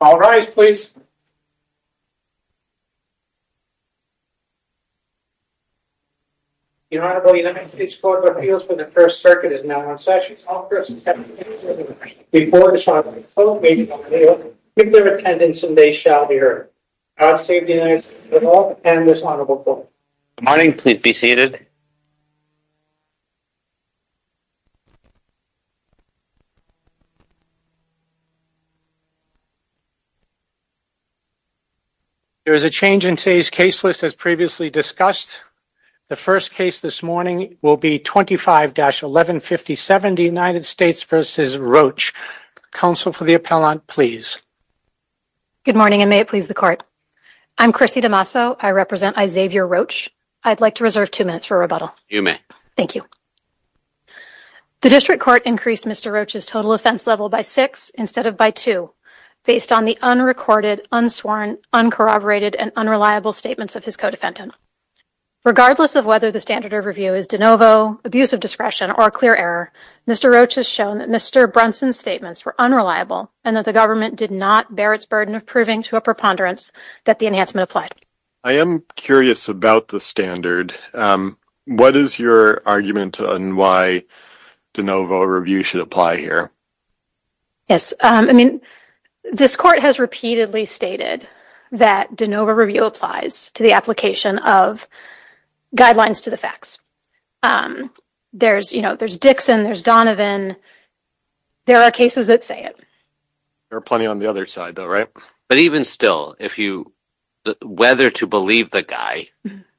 All rise, please. The Honorable United States Court of Appeals for the First Circuit is now in session. All persons have the opportunity to speak before this audience. Please keep their attendance and they shall be heard. God save the United States of America and this Honorable Court. Good morning. Please be seated. There is a change in today's case list as previously discussed. The first case this morning will be 25-1157, the United States v. Roache. Counsel for the appellant, please. Good morning, and may it please the Court. I'm Chrissy DeMasso. I represent Isaiah Roache. I'd like to reserve two minutes for rebuttal. You may. Thank you. The district court increased Mr. Roache's total offense level by six instead of by two based on the unrecorded, unsworn, uncorroborated, and unreliable statements of his co-defendant. Regardless of whether the standard of review is de novo, abuse of discretion, or a clear error, Mr. Roache has shown that Mr. Brunson's statements were unreliable and that the government did not bear its burden of proving to a preponderance that the enhancement applied. I am curious about the standard. What is your argument on why de novo review should apply here? I mean, this Court has repeatedly stated that de novo review applies to the application of guidelines to the facts. There's, you know, there's Dixon, there's Donovan. There are cases that say it. There are plenty on the other side, though, right? But even still, whether to believe the guy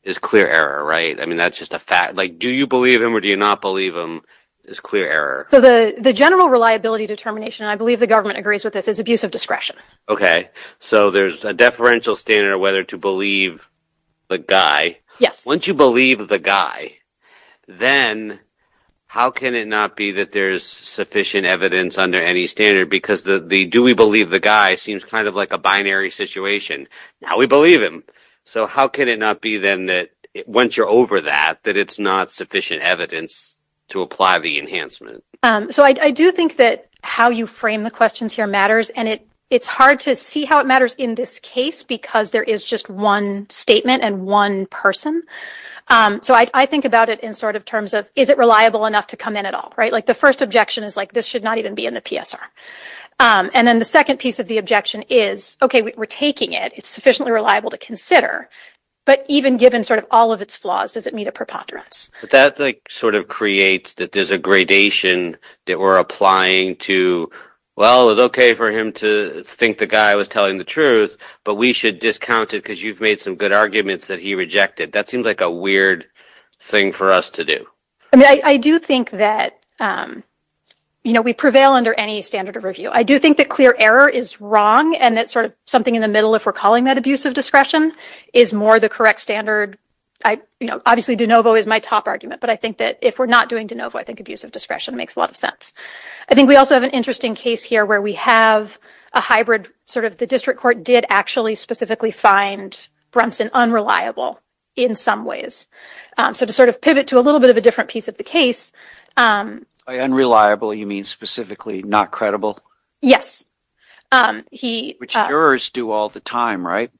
is clear error, right? I mean, that's just a fact. Like, do you believe him or do you not believe him is clear error. So the general reliability determination, and I believe the government agrees with this, is abuse of discretion. Okay. So there's a deferential standard whether to believe the guy. Yes. Once you believe the guy, then how can it not be that there's sufficient evidence under any standard? Because the do we believe the guy seems kind of like a binary situation. Now we believe him. So how can it not be then that once you're over that, that it's not sufficient evidence to apply the enhancement? So I do think that how you frame the questions here matters. And it's hard to see how it matters in this case because there is just one statement and one person. So I think about it in sort of terms of is it reliable enough to come in at all, right? Like the first objection is like this should not even be in the PSR. And then the second piece of the objection is, okay, we're taking it. It's sufficiently reliable to consider. But even given sort of all of its flaws, does it meet a preponderance? But that sort of creates that there's a gradation that we're applying to, well, it was okay for him to think the guy was telling the truth, but we should discount it because you've made some good arguments that he rejected. That seems like a weird thing for us to do. I mean, I do think that, you know, we prevail under any standard of review. I do think that clear error is wrong and that sort of something in the middle, if we're calling that abusive discretion, is more the correct standard. I, you know, obviously de novo is my top argument, but I think that if we're not doing de novo, I think abusive discretion makes a lot of sense. I think we also have an interesting case here where we have a hybrid sort of the district court did actually specifically find Brunson unreliable in some ways. So to sort of pivot to a little bit of a different piece of the case. Unreliable, you mean specifically not credible? Yes. Which jurors do all the time, right?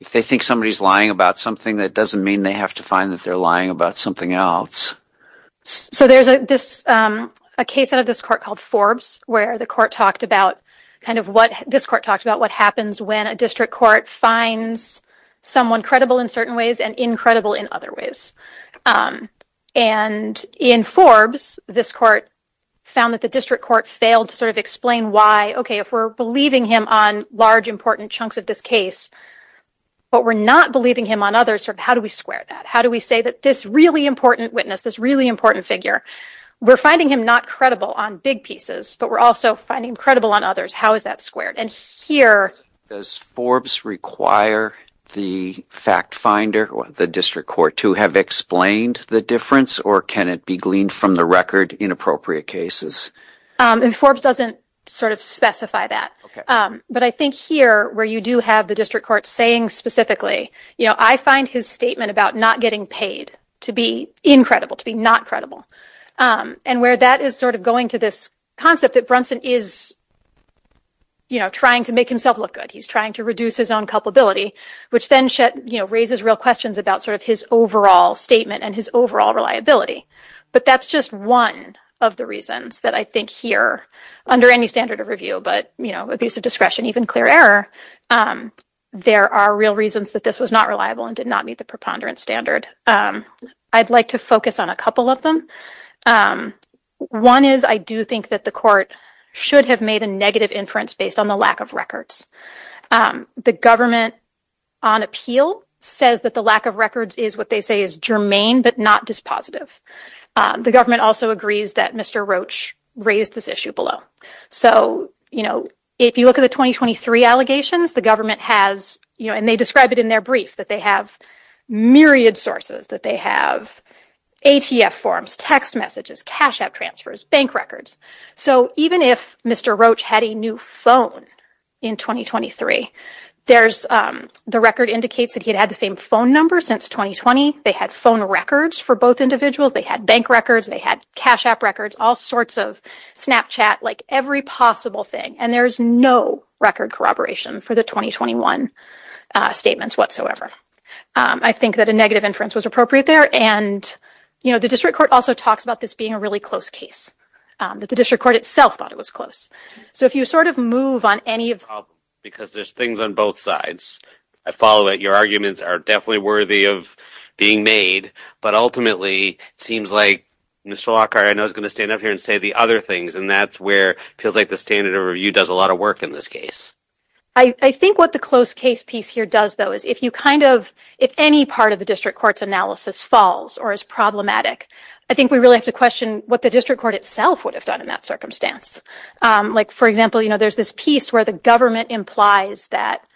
If they think somebody is lying about something, that doesn't mean they have to find that they're lying about something else. So there's this a case out of this court called Forbes where the court talked about kind of what this court talked about, what happens when a district court finds someone credible in certain ways and incredible in other ways. And in Forbes, this court found that the district court failed to sort of explain why. OK, if we're believing him on large, important chunks of this case, but we're not believing him on others. How do we square that? How do we say that this really important witness, this really important figure, we're finding him not credible on big pieces, but we're also finding credible on others. How is that squared? And here. Does Forbes require the fact finder or the district court to have explained the difference or can it be gleaned from the record in appropriate cases? And Forbes doesn't sort of specify that. But I think here where you do have the district court saying specifically, you know, I find his statement about not getting paid to be incredible, to be not credible. And where that is sort of going to this concept that Brunson is. You know, trying to make himself look good, he's trying to reduce his own culpability, which then raises real questions about sort of his overall statement and his overall reliability. But that's just one of the reasons that I think here under any standard of review. But, you know, abuse of discretion, even clear error. There are real reasons that this was not reliable and did not meet the preponderance standard. I'd like to focus on a couple of them. One is I do think that the court should have made a negative inference based on the lack of records. The government on appeal says that the lack of records is what they say is germane, but not dispositive. The government also agrees that Mr. Roach raised this issue below. So, you know, if you look at the 2023 allegations, the government has, you know, and they describe it in their brief that they have myriad sources, that they have ATF forms, text messages, cash out transfers, bank records. So even if Mr. Roach had a new phone in 2023, there's the record indicates that he had the same phone number since 2020. They had phone records for both individuals. They had bank records. They had cash app records, all sorts of Snapchat, like every possible thing. And there is no record corroboration for the 2021 statements whatsoever. I think that a negative inference was appropriate there. And, you know, the district court also talks about this being a really close case. The district court itself thought it was close. So if you sort of move on any of... Because there's things on both sides. I follow that your arguments are definitely worthy of being made. But ultimately, it seems like Mr. Lockhart, I know, is going to stand up here and say the other things. And that's where it feels like the standard of review does a lot of work in this case. I think what the close case piece here does, though, is if you kind of, if any part of the district court's analysis falls or is problematic, I think we really have to question what the district court itself would have done in that circumstance. Like, for example, you know, there's this piece where the government implies that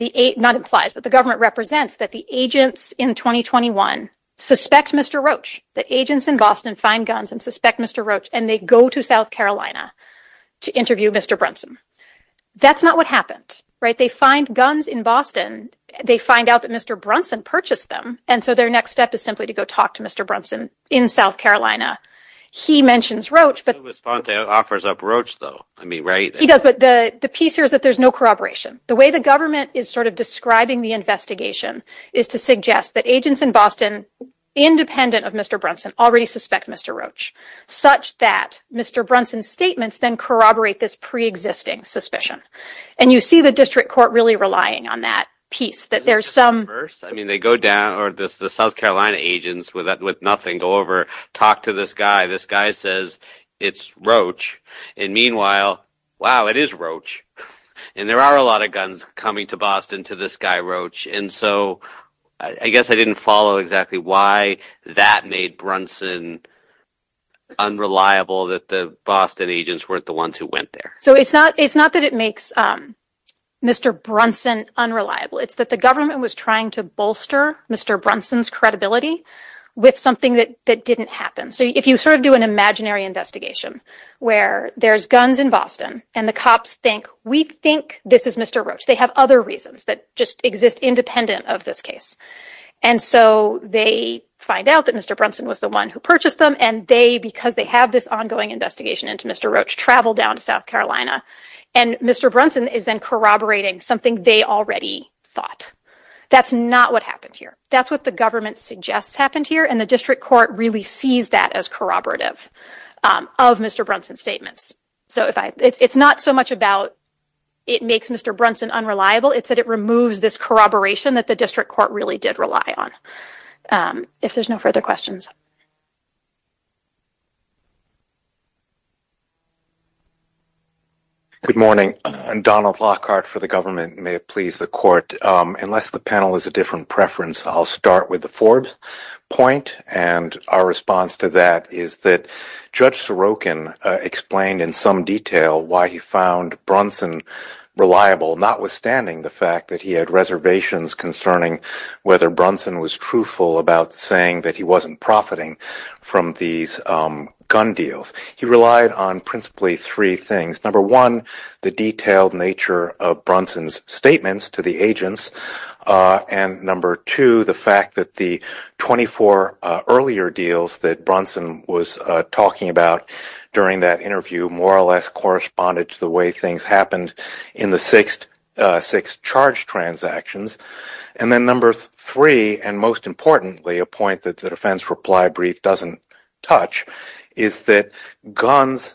the eight not implies, but the government represents that the agents in 2021 suspect Mr. Roach, that agents in Boston find guns and suspect Mr. Roach and they go to South Carolina to interview Mr. Brunson. That's not what happened. Right. They find guns in Boston. They find out that Mr. Brunson purchased them. And so their next step is simply to go talk to Mr. Brunson in South Carolina. He mentions Roach, but he offers up Roach, though. I mean, right. He does. But the piece here is that there's no corroboration. The way the government is sort of describing the investigation is to suggest that agents in Boston, independent of Mr. Brunson, already suspect Mr. Roach, such that Mr. Brunson's statements then corroborate this preexisting suspicion. And you see the district court really relying on that piece that there's some. I mean, they go down or this the South Carolina agents with nothing go over, talk to this guy. This guy says it's Roach. And meanwhile, wow, it is Roach. And there are a lot of guns coming to Boston to this guy, Roach. And so I guess I didn't follow exactly why that made Brunson unreliable, that the Boston agents weren't the ones who went there. So it's not it's not that it makes Mr. Brunson unreliable. It's that the government was trying to bolster Mr. Brunson's credibility with something that that didn't happen. So if you sort of do an imaginary investigation where there's guns in Boston and the cops think we think this is Mr. Roach, they have other reasons that just exist independent of this case. And so they find out that Mr. Brunson was the one who purchased them. And they because they have this ongoing investigation into Mr. Roach, travel down to South Carolina. And Mr. Brunson is then corroborating something they already thought. That's not what happened here. That's what the government suggests happened here. And the district court really sees that as corroborative of Mr. Brunson statements. So if I it's not so much about it makes Mr. Brunson unreliable. It's that it removes this corroboration that the district court really did rely on. If there's no further questions. Good morning. Donald Lockhart for the government. May it please the court. Unless the panel is a different preference. I'll start with the Forbes point. And our response to that is that Judge Sorokin explained in some detail why he found Brunson reliable. Notwithstanding the fact that he had reservations concerning whether Brunson was truthful about saying that he wasn't profiting from these gun deals. He relied on principally three things. Number one, the detailed nature of Brunson's statements to the agents. And number two, the fact that the 24 earlier deals that Brunson was talking about during that interview, more or less corresponded to the way things happened in the six charge transactions. And then number three, and most importantly, a point that the defense reply brief doesn't touch, is that guns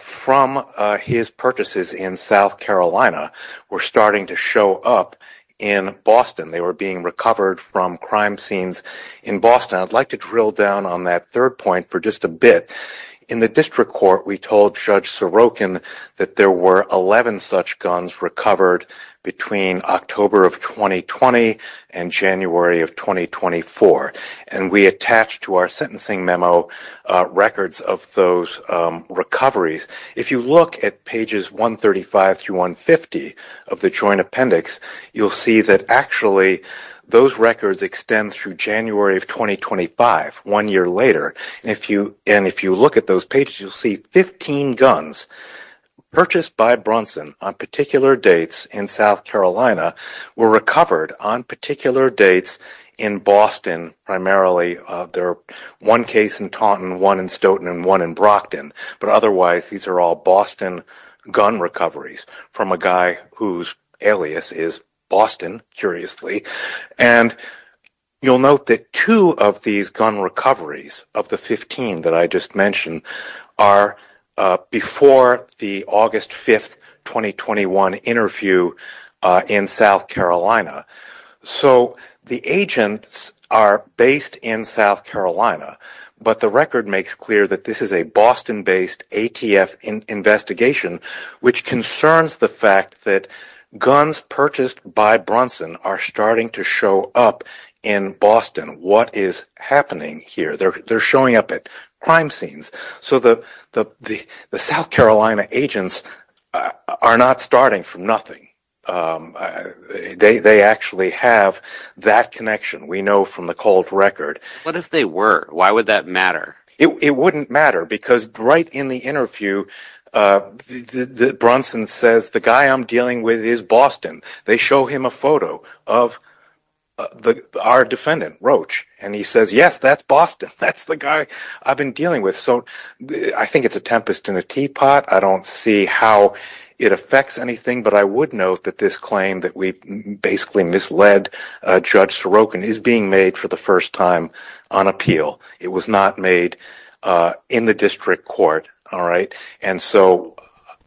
from his purchases in South Carolina were starting to show up in Boston. They were being recovered from crime scenes in Boston. I'd like to drill down on that third point for just a bit. In the district court, we told Judge Sorokin that there were 11 such guns recovered between October of 2020 and January of 2024. And we attached to our sentencing memo records of those recoveries. If you look at pages 135 through 150 of the joint appendix, you'll see that actually those records extend through January of 2025, one year later. And if you look at those pages, you'll see 15 guns purchased by Brunson on particular dates in South Carolina were recovered on particular dates in Boston, primarily. One case in Taunton, one in Stoughton, and one in Brockton. But otherwise, these are all Boston gun recoveries from a guy whose alias is Boston, curiously. And you'll note that two of these gun recoveries, of the 15 that I just mentioned, are before the August 5, 2021 interview in South Carolina. So the agents are based in South Carolina, but the record makes clear that this is a Boston-based ATF investigation, which concerns the fact that guns purchased by Brunson are starting to show up in Boston. What is happening here? They're showing up at crime scenes. So the South Carolina agents are not starting from nothing. They actually have that connection we know from the cold record. What if they were? Why would that matter? It wouldn't matter because right in the interview, Brunson says, the guy I'm dealing with is Boston. They show him a photo of our defendant, Roach, and he says, yes, that's Boston. That's the guy I've been dealing with. So I think it's a tempest in a teapot. I don't see how it affects anything. But I would note that this claim that we basically misled Judge Sorokin is being made for the first time on appeal. It was not made in the district court. And so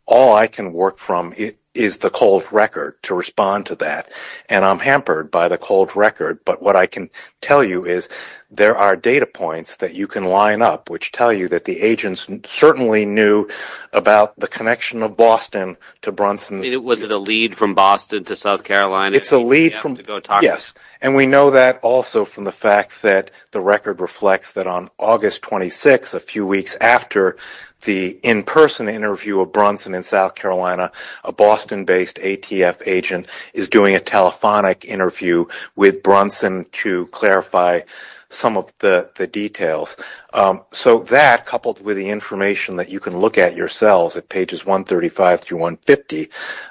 all I can work from is the cold record to respond to that, and I'm hampered by the cold record. But what I can tell you is there are data points that you can line up, which tell you that the agents certainly knew about the connection of Boston to Brunson. Was it a lead from Boston to South Carolina? Yes, and we know that also from the fact that the record reflects that on August 26, a few weeks after the in-person interview of Brunson in South Carolina, a Boston-based ATF agent is doing a telephonic interview with Brunson to clarify some of the details. So that, coupled with the information that you can look at yourselves at pages 135 through 150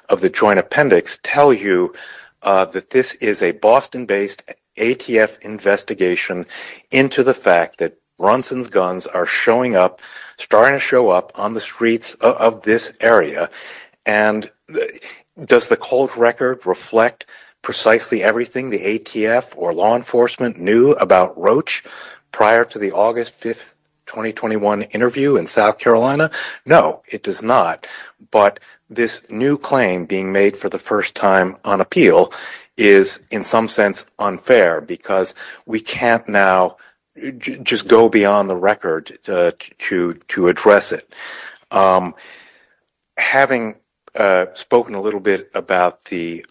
of the joint appendix, tell you that this is a Boston-based ATF investigation into the fact that Brunson's guns are showing up, starting to show up on the streets of this area. And does the cold record reflect precisely everything the ATF or law enforcement knew about Roach prior to the August 5, 2021 interview in South Carolina? No, it does not. But this new claim being made for the first time on appeal is in some sense unfair because we can't now just go beyond the record to address it. Having spoken a little bit about the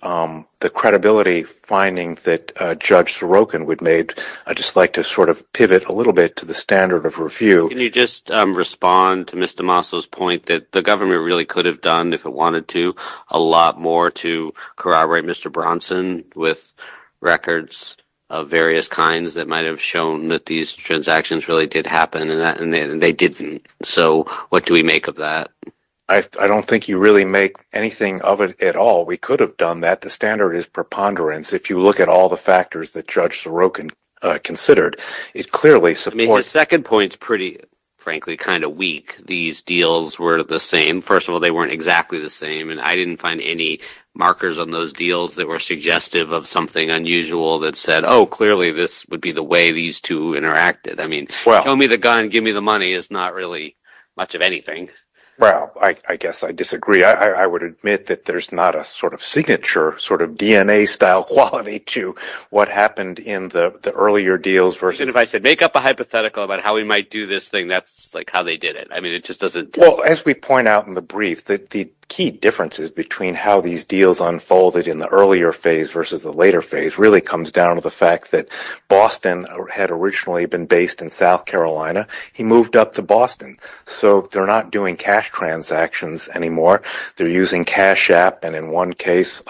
credibility finding that Judge Sorokin would make, I'd just like to sort of pivot a little bit to the standard of review. Can you just respond to Mr. Maslow's point that the government really could have done, if it wanted to, a lot more to corroborate Mr. Brunson with records of various kinds that might have shown that these transactions really did happen and they didn't. So what do we make of that? I don't think you really make anything of it at all. We could have done that. The standard is preponderance. If you look at all the factors that Judge Sorokin considered, it clearly supports… I mean, his second point is pretty, frankly, kind of weak. These deals were the same. First of all, they weren't exactly the same, and I didn't find any markers on those deals that were suggestive of something unusual that said, oh, clearly this would be the way these two interacted. I mean, tell me the gun, give me the money is not really much of anything. Well, I guess I disagree. I would admit that there's not a sort of signature, sort of DNA-style quality to what happened in the earlier deals versus… Even if I said make up a hypothetical about how we might do this thing, that's like how they did it. I mean, it just doesn't… Well, as we point out in the brief, the key differences between how these deals unfolded in the earlier phase versus the later phase really comes down to the fact that when Boston had originally been based in South Carolina, he moved up to Boston. So they're not doing cash transactions anymore. They're using Cash App, and in one case,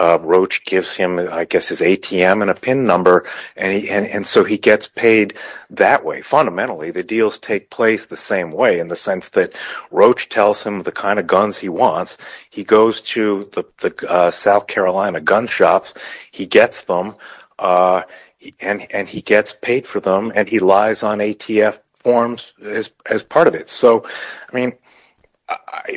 Roach gives him, I guess, his ATM and a PIN number, and so he gets paid that way. Fundamentally, the deals take place the same way in the sense that Roach tells him the kind of guns he wants. He goes to the South Carolina gun shops. He gets them, and he gets paid for them, and he lies on ATF forms as part of it. So, I mean,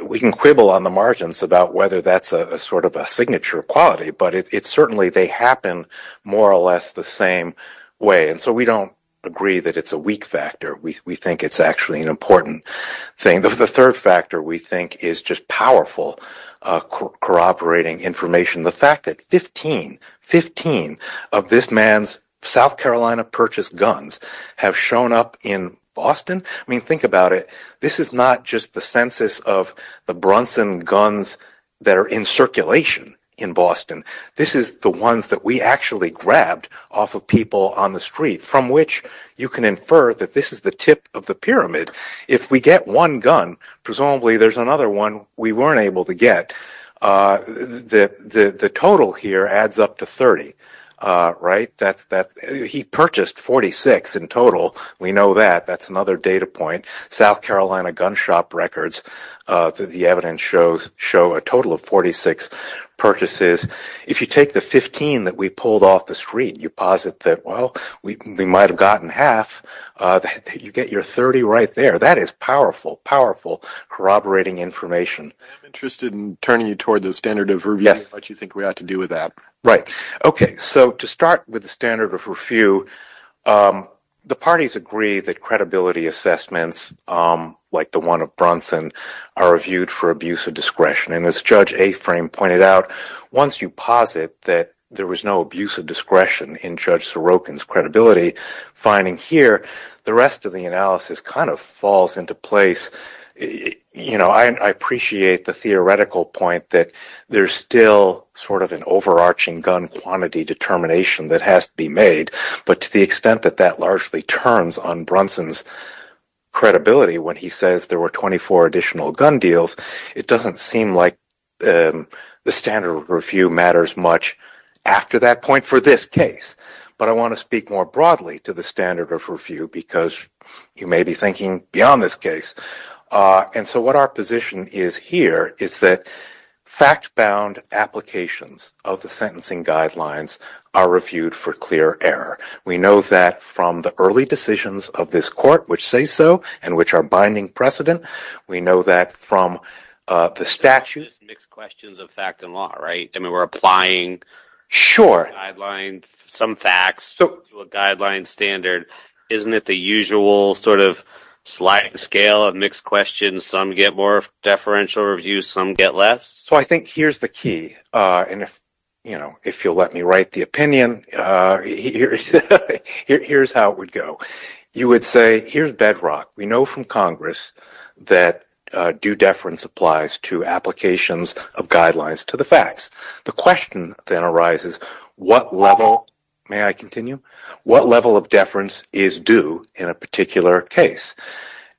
we can quibble on the margins about whether that's a sort of a signature quality, but certainly they happen more or less the same way, and so we don't agree that it's a weak factor. We think it's actually an important thing. The third factor, we think, is just powerful corroborating information. The fact that 15, 15 of this man's South Carolina-purchased guns have shown up in Boston. I mean, think about it. This is not just the census of the Brunson guns that are in circulation in Boston. This is the ones that we actually grabbed off of people on the street, from which you can infer that this is the tip of the pyramid. If we get one gun, presumably there's another one we weren't able to get. The total here adds up to 30, right? He purchased 46 in total. We know that. That's another data point. South Carolina gun shop records, the evidence shows, show a total of 46 purchases. If you take the 15 that we pulled off the street, you posit that, well, we might have gotten half. You get your 30 right there. That is powerful, powerful corroborating information. I'm interested in turning you toward the standard of review and what you think we ought to do with that. Right. Okay. So to start with the standard of review, the parties agree that credibility assessments, like the one of Brunson, are reviewed for abuse of discretion. And as Judge Aframe pointed out, once you posit that there was no abuse of discretion in Judge Sorokin's credibility, finding here, the rest of the analysis kind of falls into place. You know, I appreciate the theoretical point that there's still sort of an overarching gun quantity determination that has to be made. But to the extent that that largely turns on Brunson's credibility when he says there were 24 additional gun deals, it doesn't seem like the standard of review matters much after that point for this case. But I want to speak more broadly to the standard of review because you may be thinking beyond this case. And so what our position is here is that fact-bound applications of the sentencing guidelines are reviewed for clear error. We know that from the early decisions of this court which say so and which are binding precedent. We know that from the statute. It's just mixed questions of fact and law, right? I mean, we're applying some facts to a guideline standard. Isn't it the usual sort of sliding scale of mixed questions? Some get more deferential reviews. Some get less. So I think here's the key. And if you'll let me write the opinion, here's how it would go. You would say here's bedrock. We know from Congress that due deference applies to applications of guidelines to the facts. The question then arises what level, may I continue, what level of deference is due in a particular case?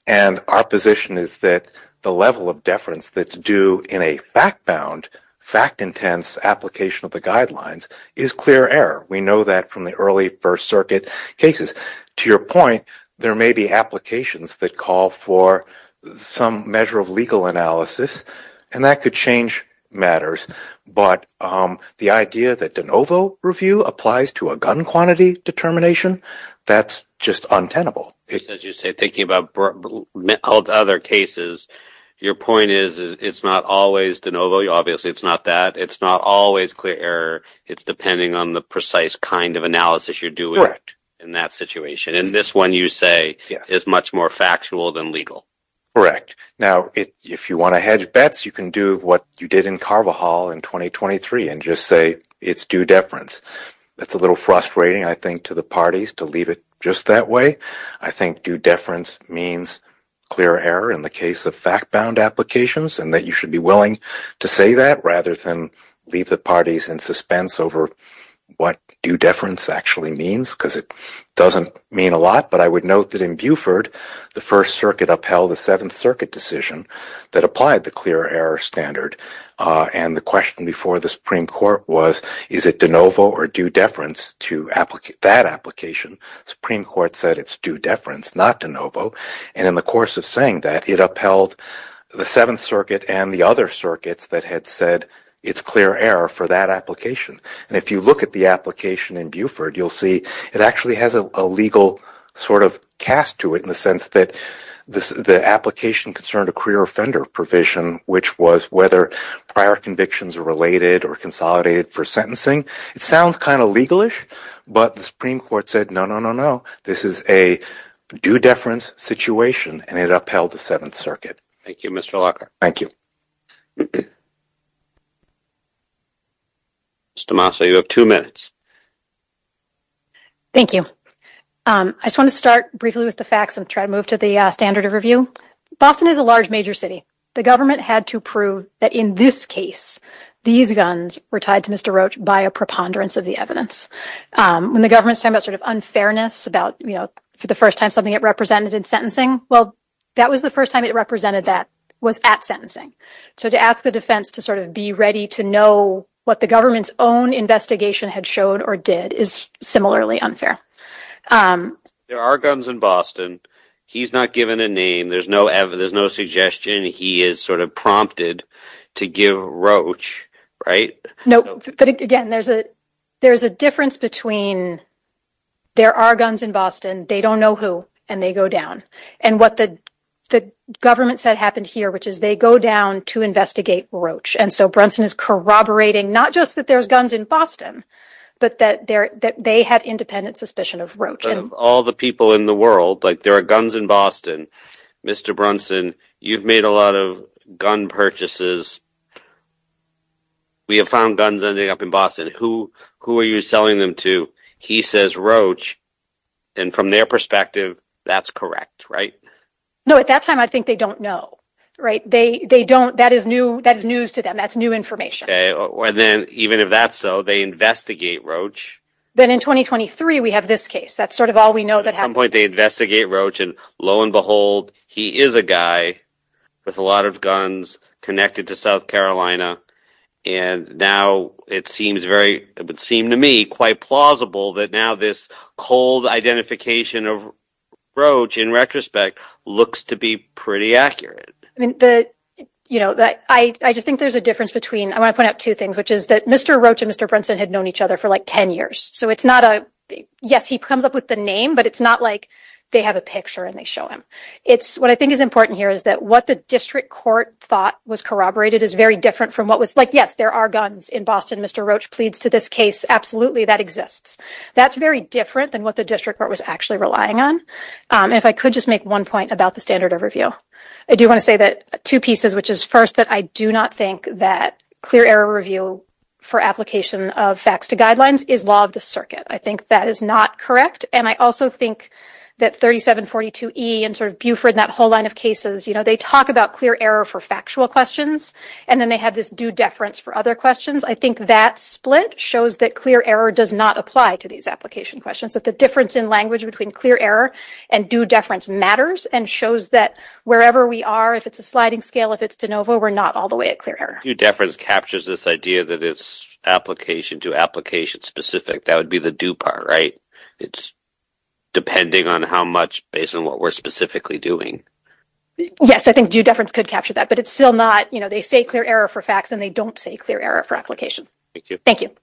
And our position is that the level of deference that's due in a fact-bound, fact-intense application of the guidelines is clear error. We know that from the early First Circuit cases. To your point, there may be applications that call for some measure of legal analysis, and that could change matters. But the idea that de novo review applies to a gun quantity determination, that's just untenable. As you say, thinking about all the other cases, your point is it's not always de novo. Obviously, it's not that. It's not always clear error. It's depending on the precise kind of analysis you're doing in that situation. And this one, you say, is much more factual than legal. Now, if you want to hedge bets, you can do what you did in Carvajal in 2023 and just say it's due deference. That's a little frustrating, I think, to the parties to leave it just that way. I think due deference means clear error in the case of fact-bound applications, and that you should be willing to say that rather than leave the parties in suspense over what due deference actually means, because it doesn't mean a lot. But I would note that in Buford, the First Circuit upheld a Seventh Circuit decision that applied the clear error standard. And the question before the Supreme Court was, is it de novo or due deference to that application? The Supreme Court said it's due deference, not de novo. And in the course of saying that, it upheld the Seventh Circuit and the other circuits that had said it's clear error for that application. And if you look at the application in Buford, you'll see it actually has a legal sort of cast to it in the sense that the application concerned a career offender provision, which was whether prior convictions are related or consolidated for sentencing. It sounds kind of legalish, but the Supreme Court said, no, no, no, no. This is a due deference situation, and it upheld the Seventh Circuit. Thank you, Mr. Lockhart. Thank you. Ms. Tomaso, you have two minutes. Thank you. I just want to start briefly with the facts and try to move to the standard of review. Boston is a large, major city. The government had to prove that in this case, these guns were tied to Mr. Roach by a preponderance of the evidence. When the government's talking about sort of unfairness about, you know, for the first time, something it represented in sentencing, well, that was the first time it represented that was at sentencing. So to ask the defense to sort of be ready to know what the government's own investigation had showed or did is similarly unfair. There are guns in Boston. He's not given a name. There's no suggestion he is sort of prompted to give Roach, right? Nope. But, again, there's a difference between there are guns in Boston, they don't know who, and they go down. And what the government said happened here, which is they go down to investigate Roach. And so Brunson is corroborating not just that there's guns in Boston, but that they have independent suspicion of Roach. Of all the people in the world, like there are guns in Boston. Mr. Brunson, you've made a lot of gun purchases. We have found guns ending up in Boston. Who are you selling them to? He says Roach. And from their perspective, that's correct, right? No, at that time, I think they don't know, right? They don't. That is news to them. That's new information. And then even if that's so, they investigate Roach. Then in 2023, we have this case. That's sort of all we know that happened. And lo and behold, he is a guy with a lot of guns connected to South Carolina. And now it seems to me quite plausible that now this cold identification of Roach, in retrospect, looks to be pretty accurate. I just think there's a difference between, I want to point out two things, which is that Mr. Roach and Mr. Brunson had known each other for like 10 years. So it's not a, yes, he comes up with the name, but it's not like they have a picture and they show him. What I think is important here is that what the district court thought was corroborated is very different from what was like, yes, there are guns in Boston. Mr. Roach pleads to this case. Absolutely, that exists. That's very different than what the district court was actually relying on. And if I could just make one point about the standard of review, I do want to say that two pieces, which is first that I do not think that clear error review for application of facts to guidelines is law of the circuit. I think that is not correct. And I also think that 3742E and sort of Buford and that whole line of cases, you know, they talk about clear error for factual questions. And then they have this due deference for other questions. I think that split shows that clear error does not apply to these application questions. That the difference in language between clear error and due deference matters and shows that wherever we are, if it's a sliding scale, if it's de novo, we're not all the way at clear error. Due deference captures this idea that it's application to application specific. That would be the do part, right? It's depending on how much based on what we're specifically doing. Yes, I think due deference could capture that, but it's still not, you know, they say clear error for facts and they don't say clear error for application. Thank you. Thank you.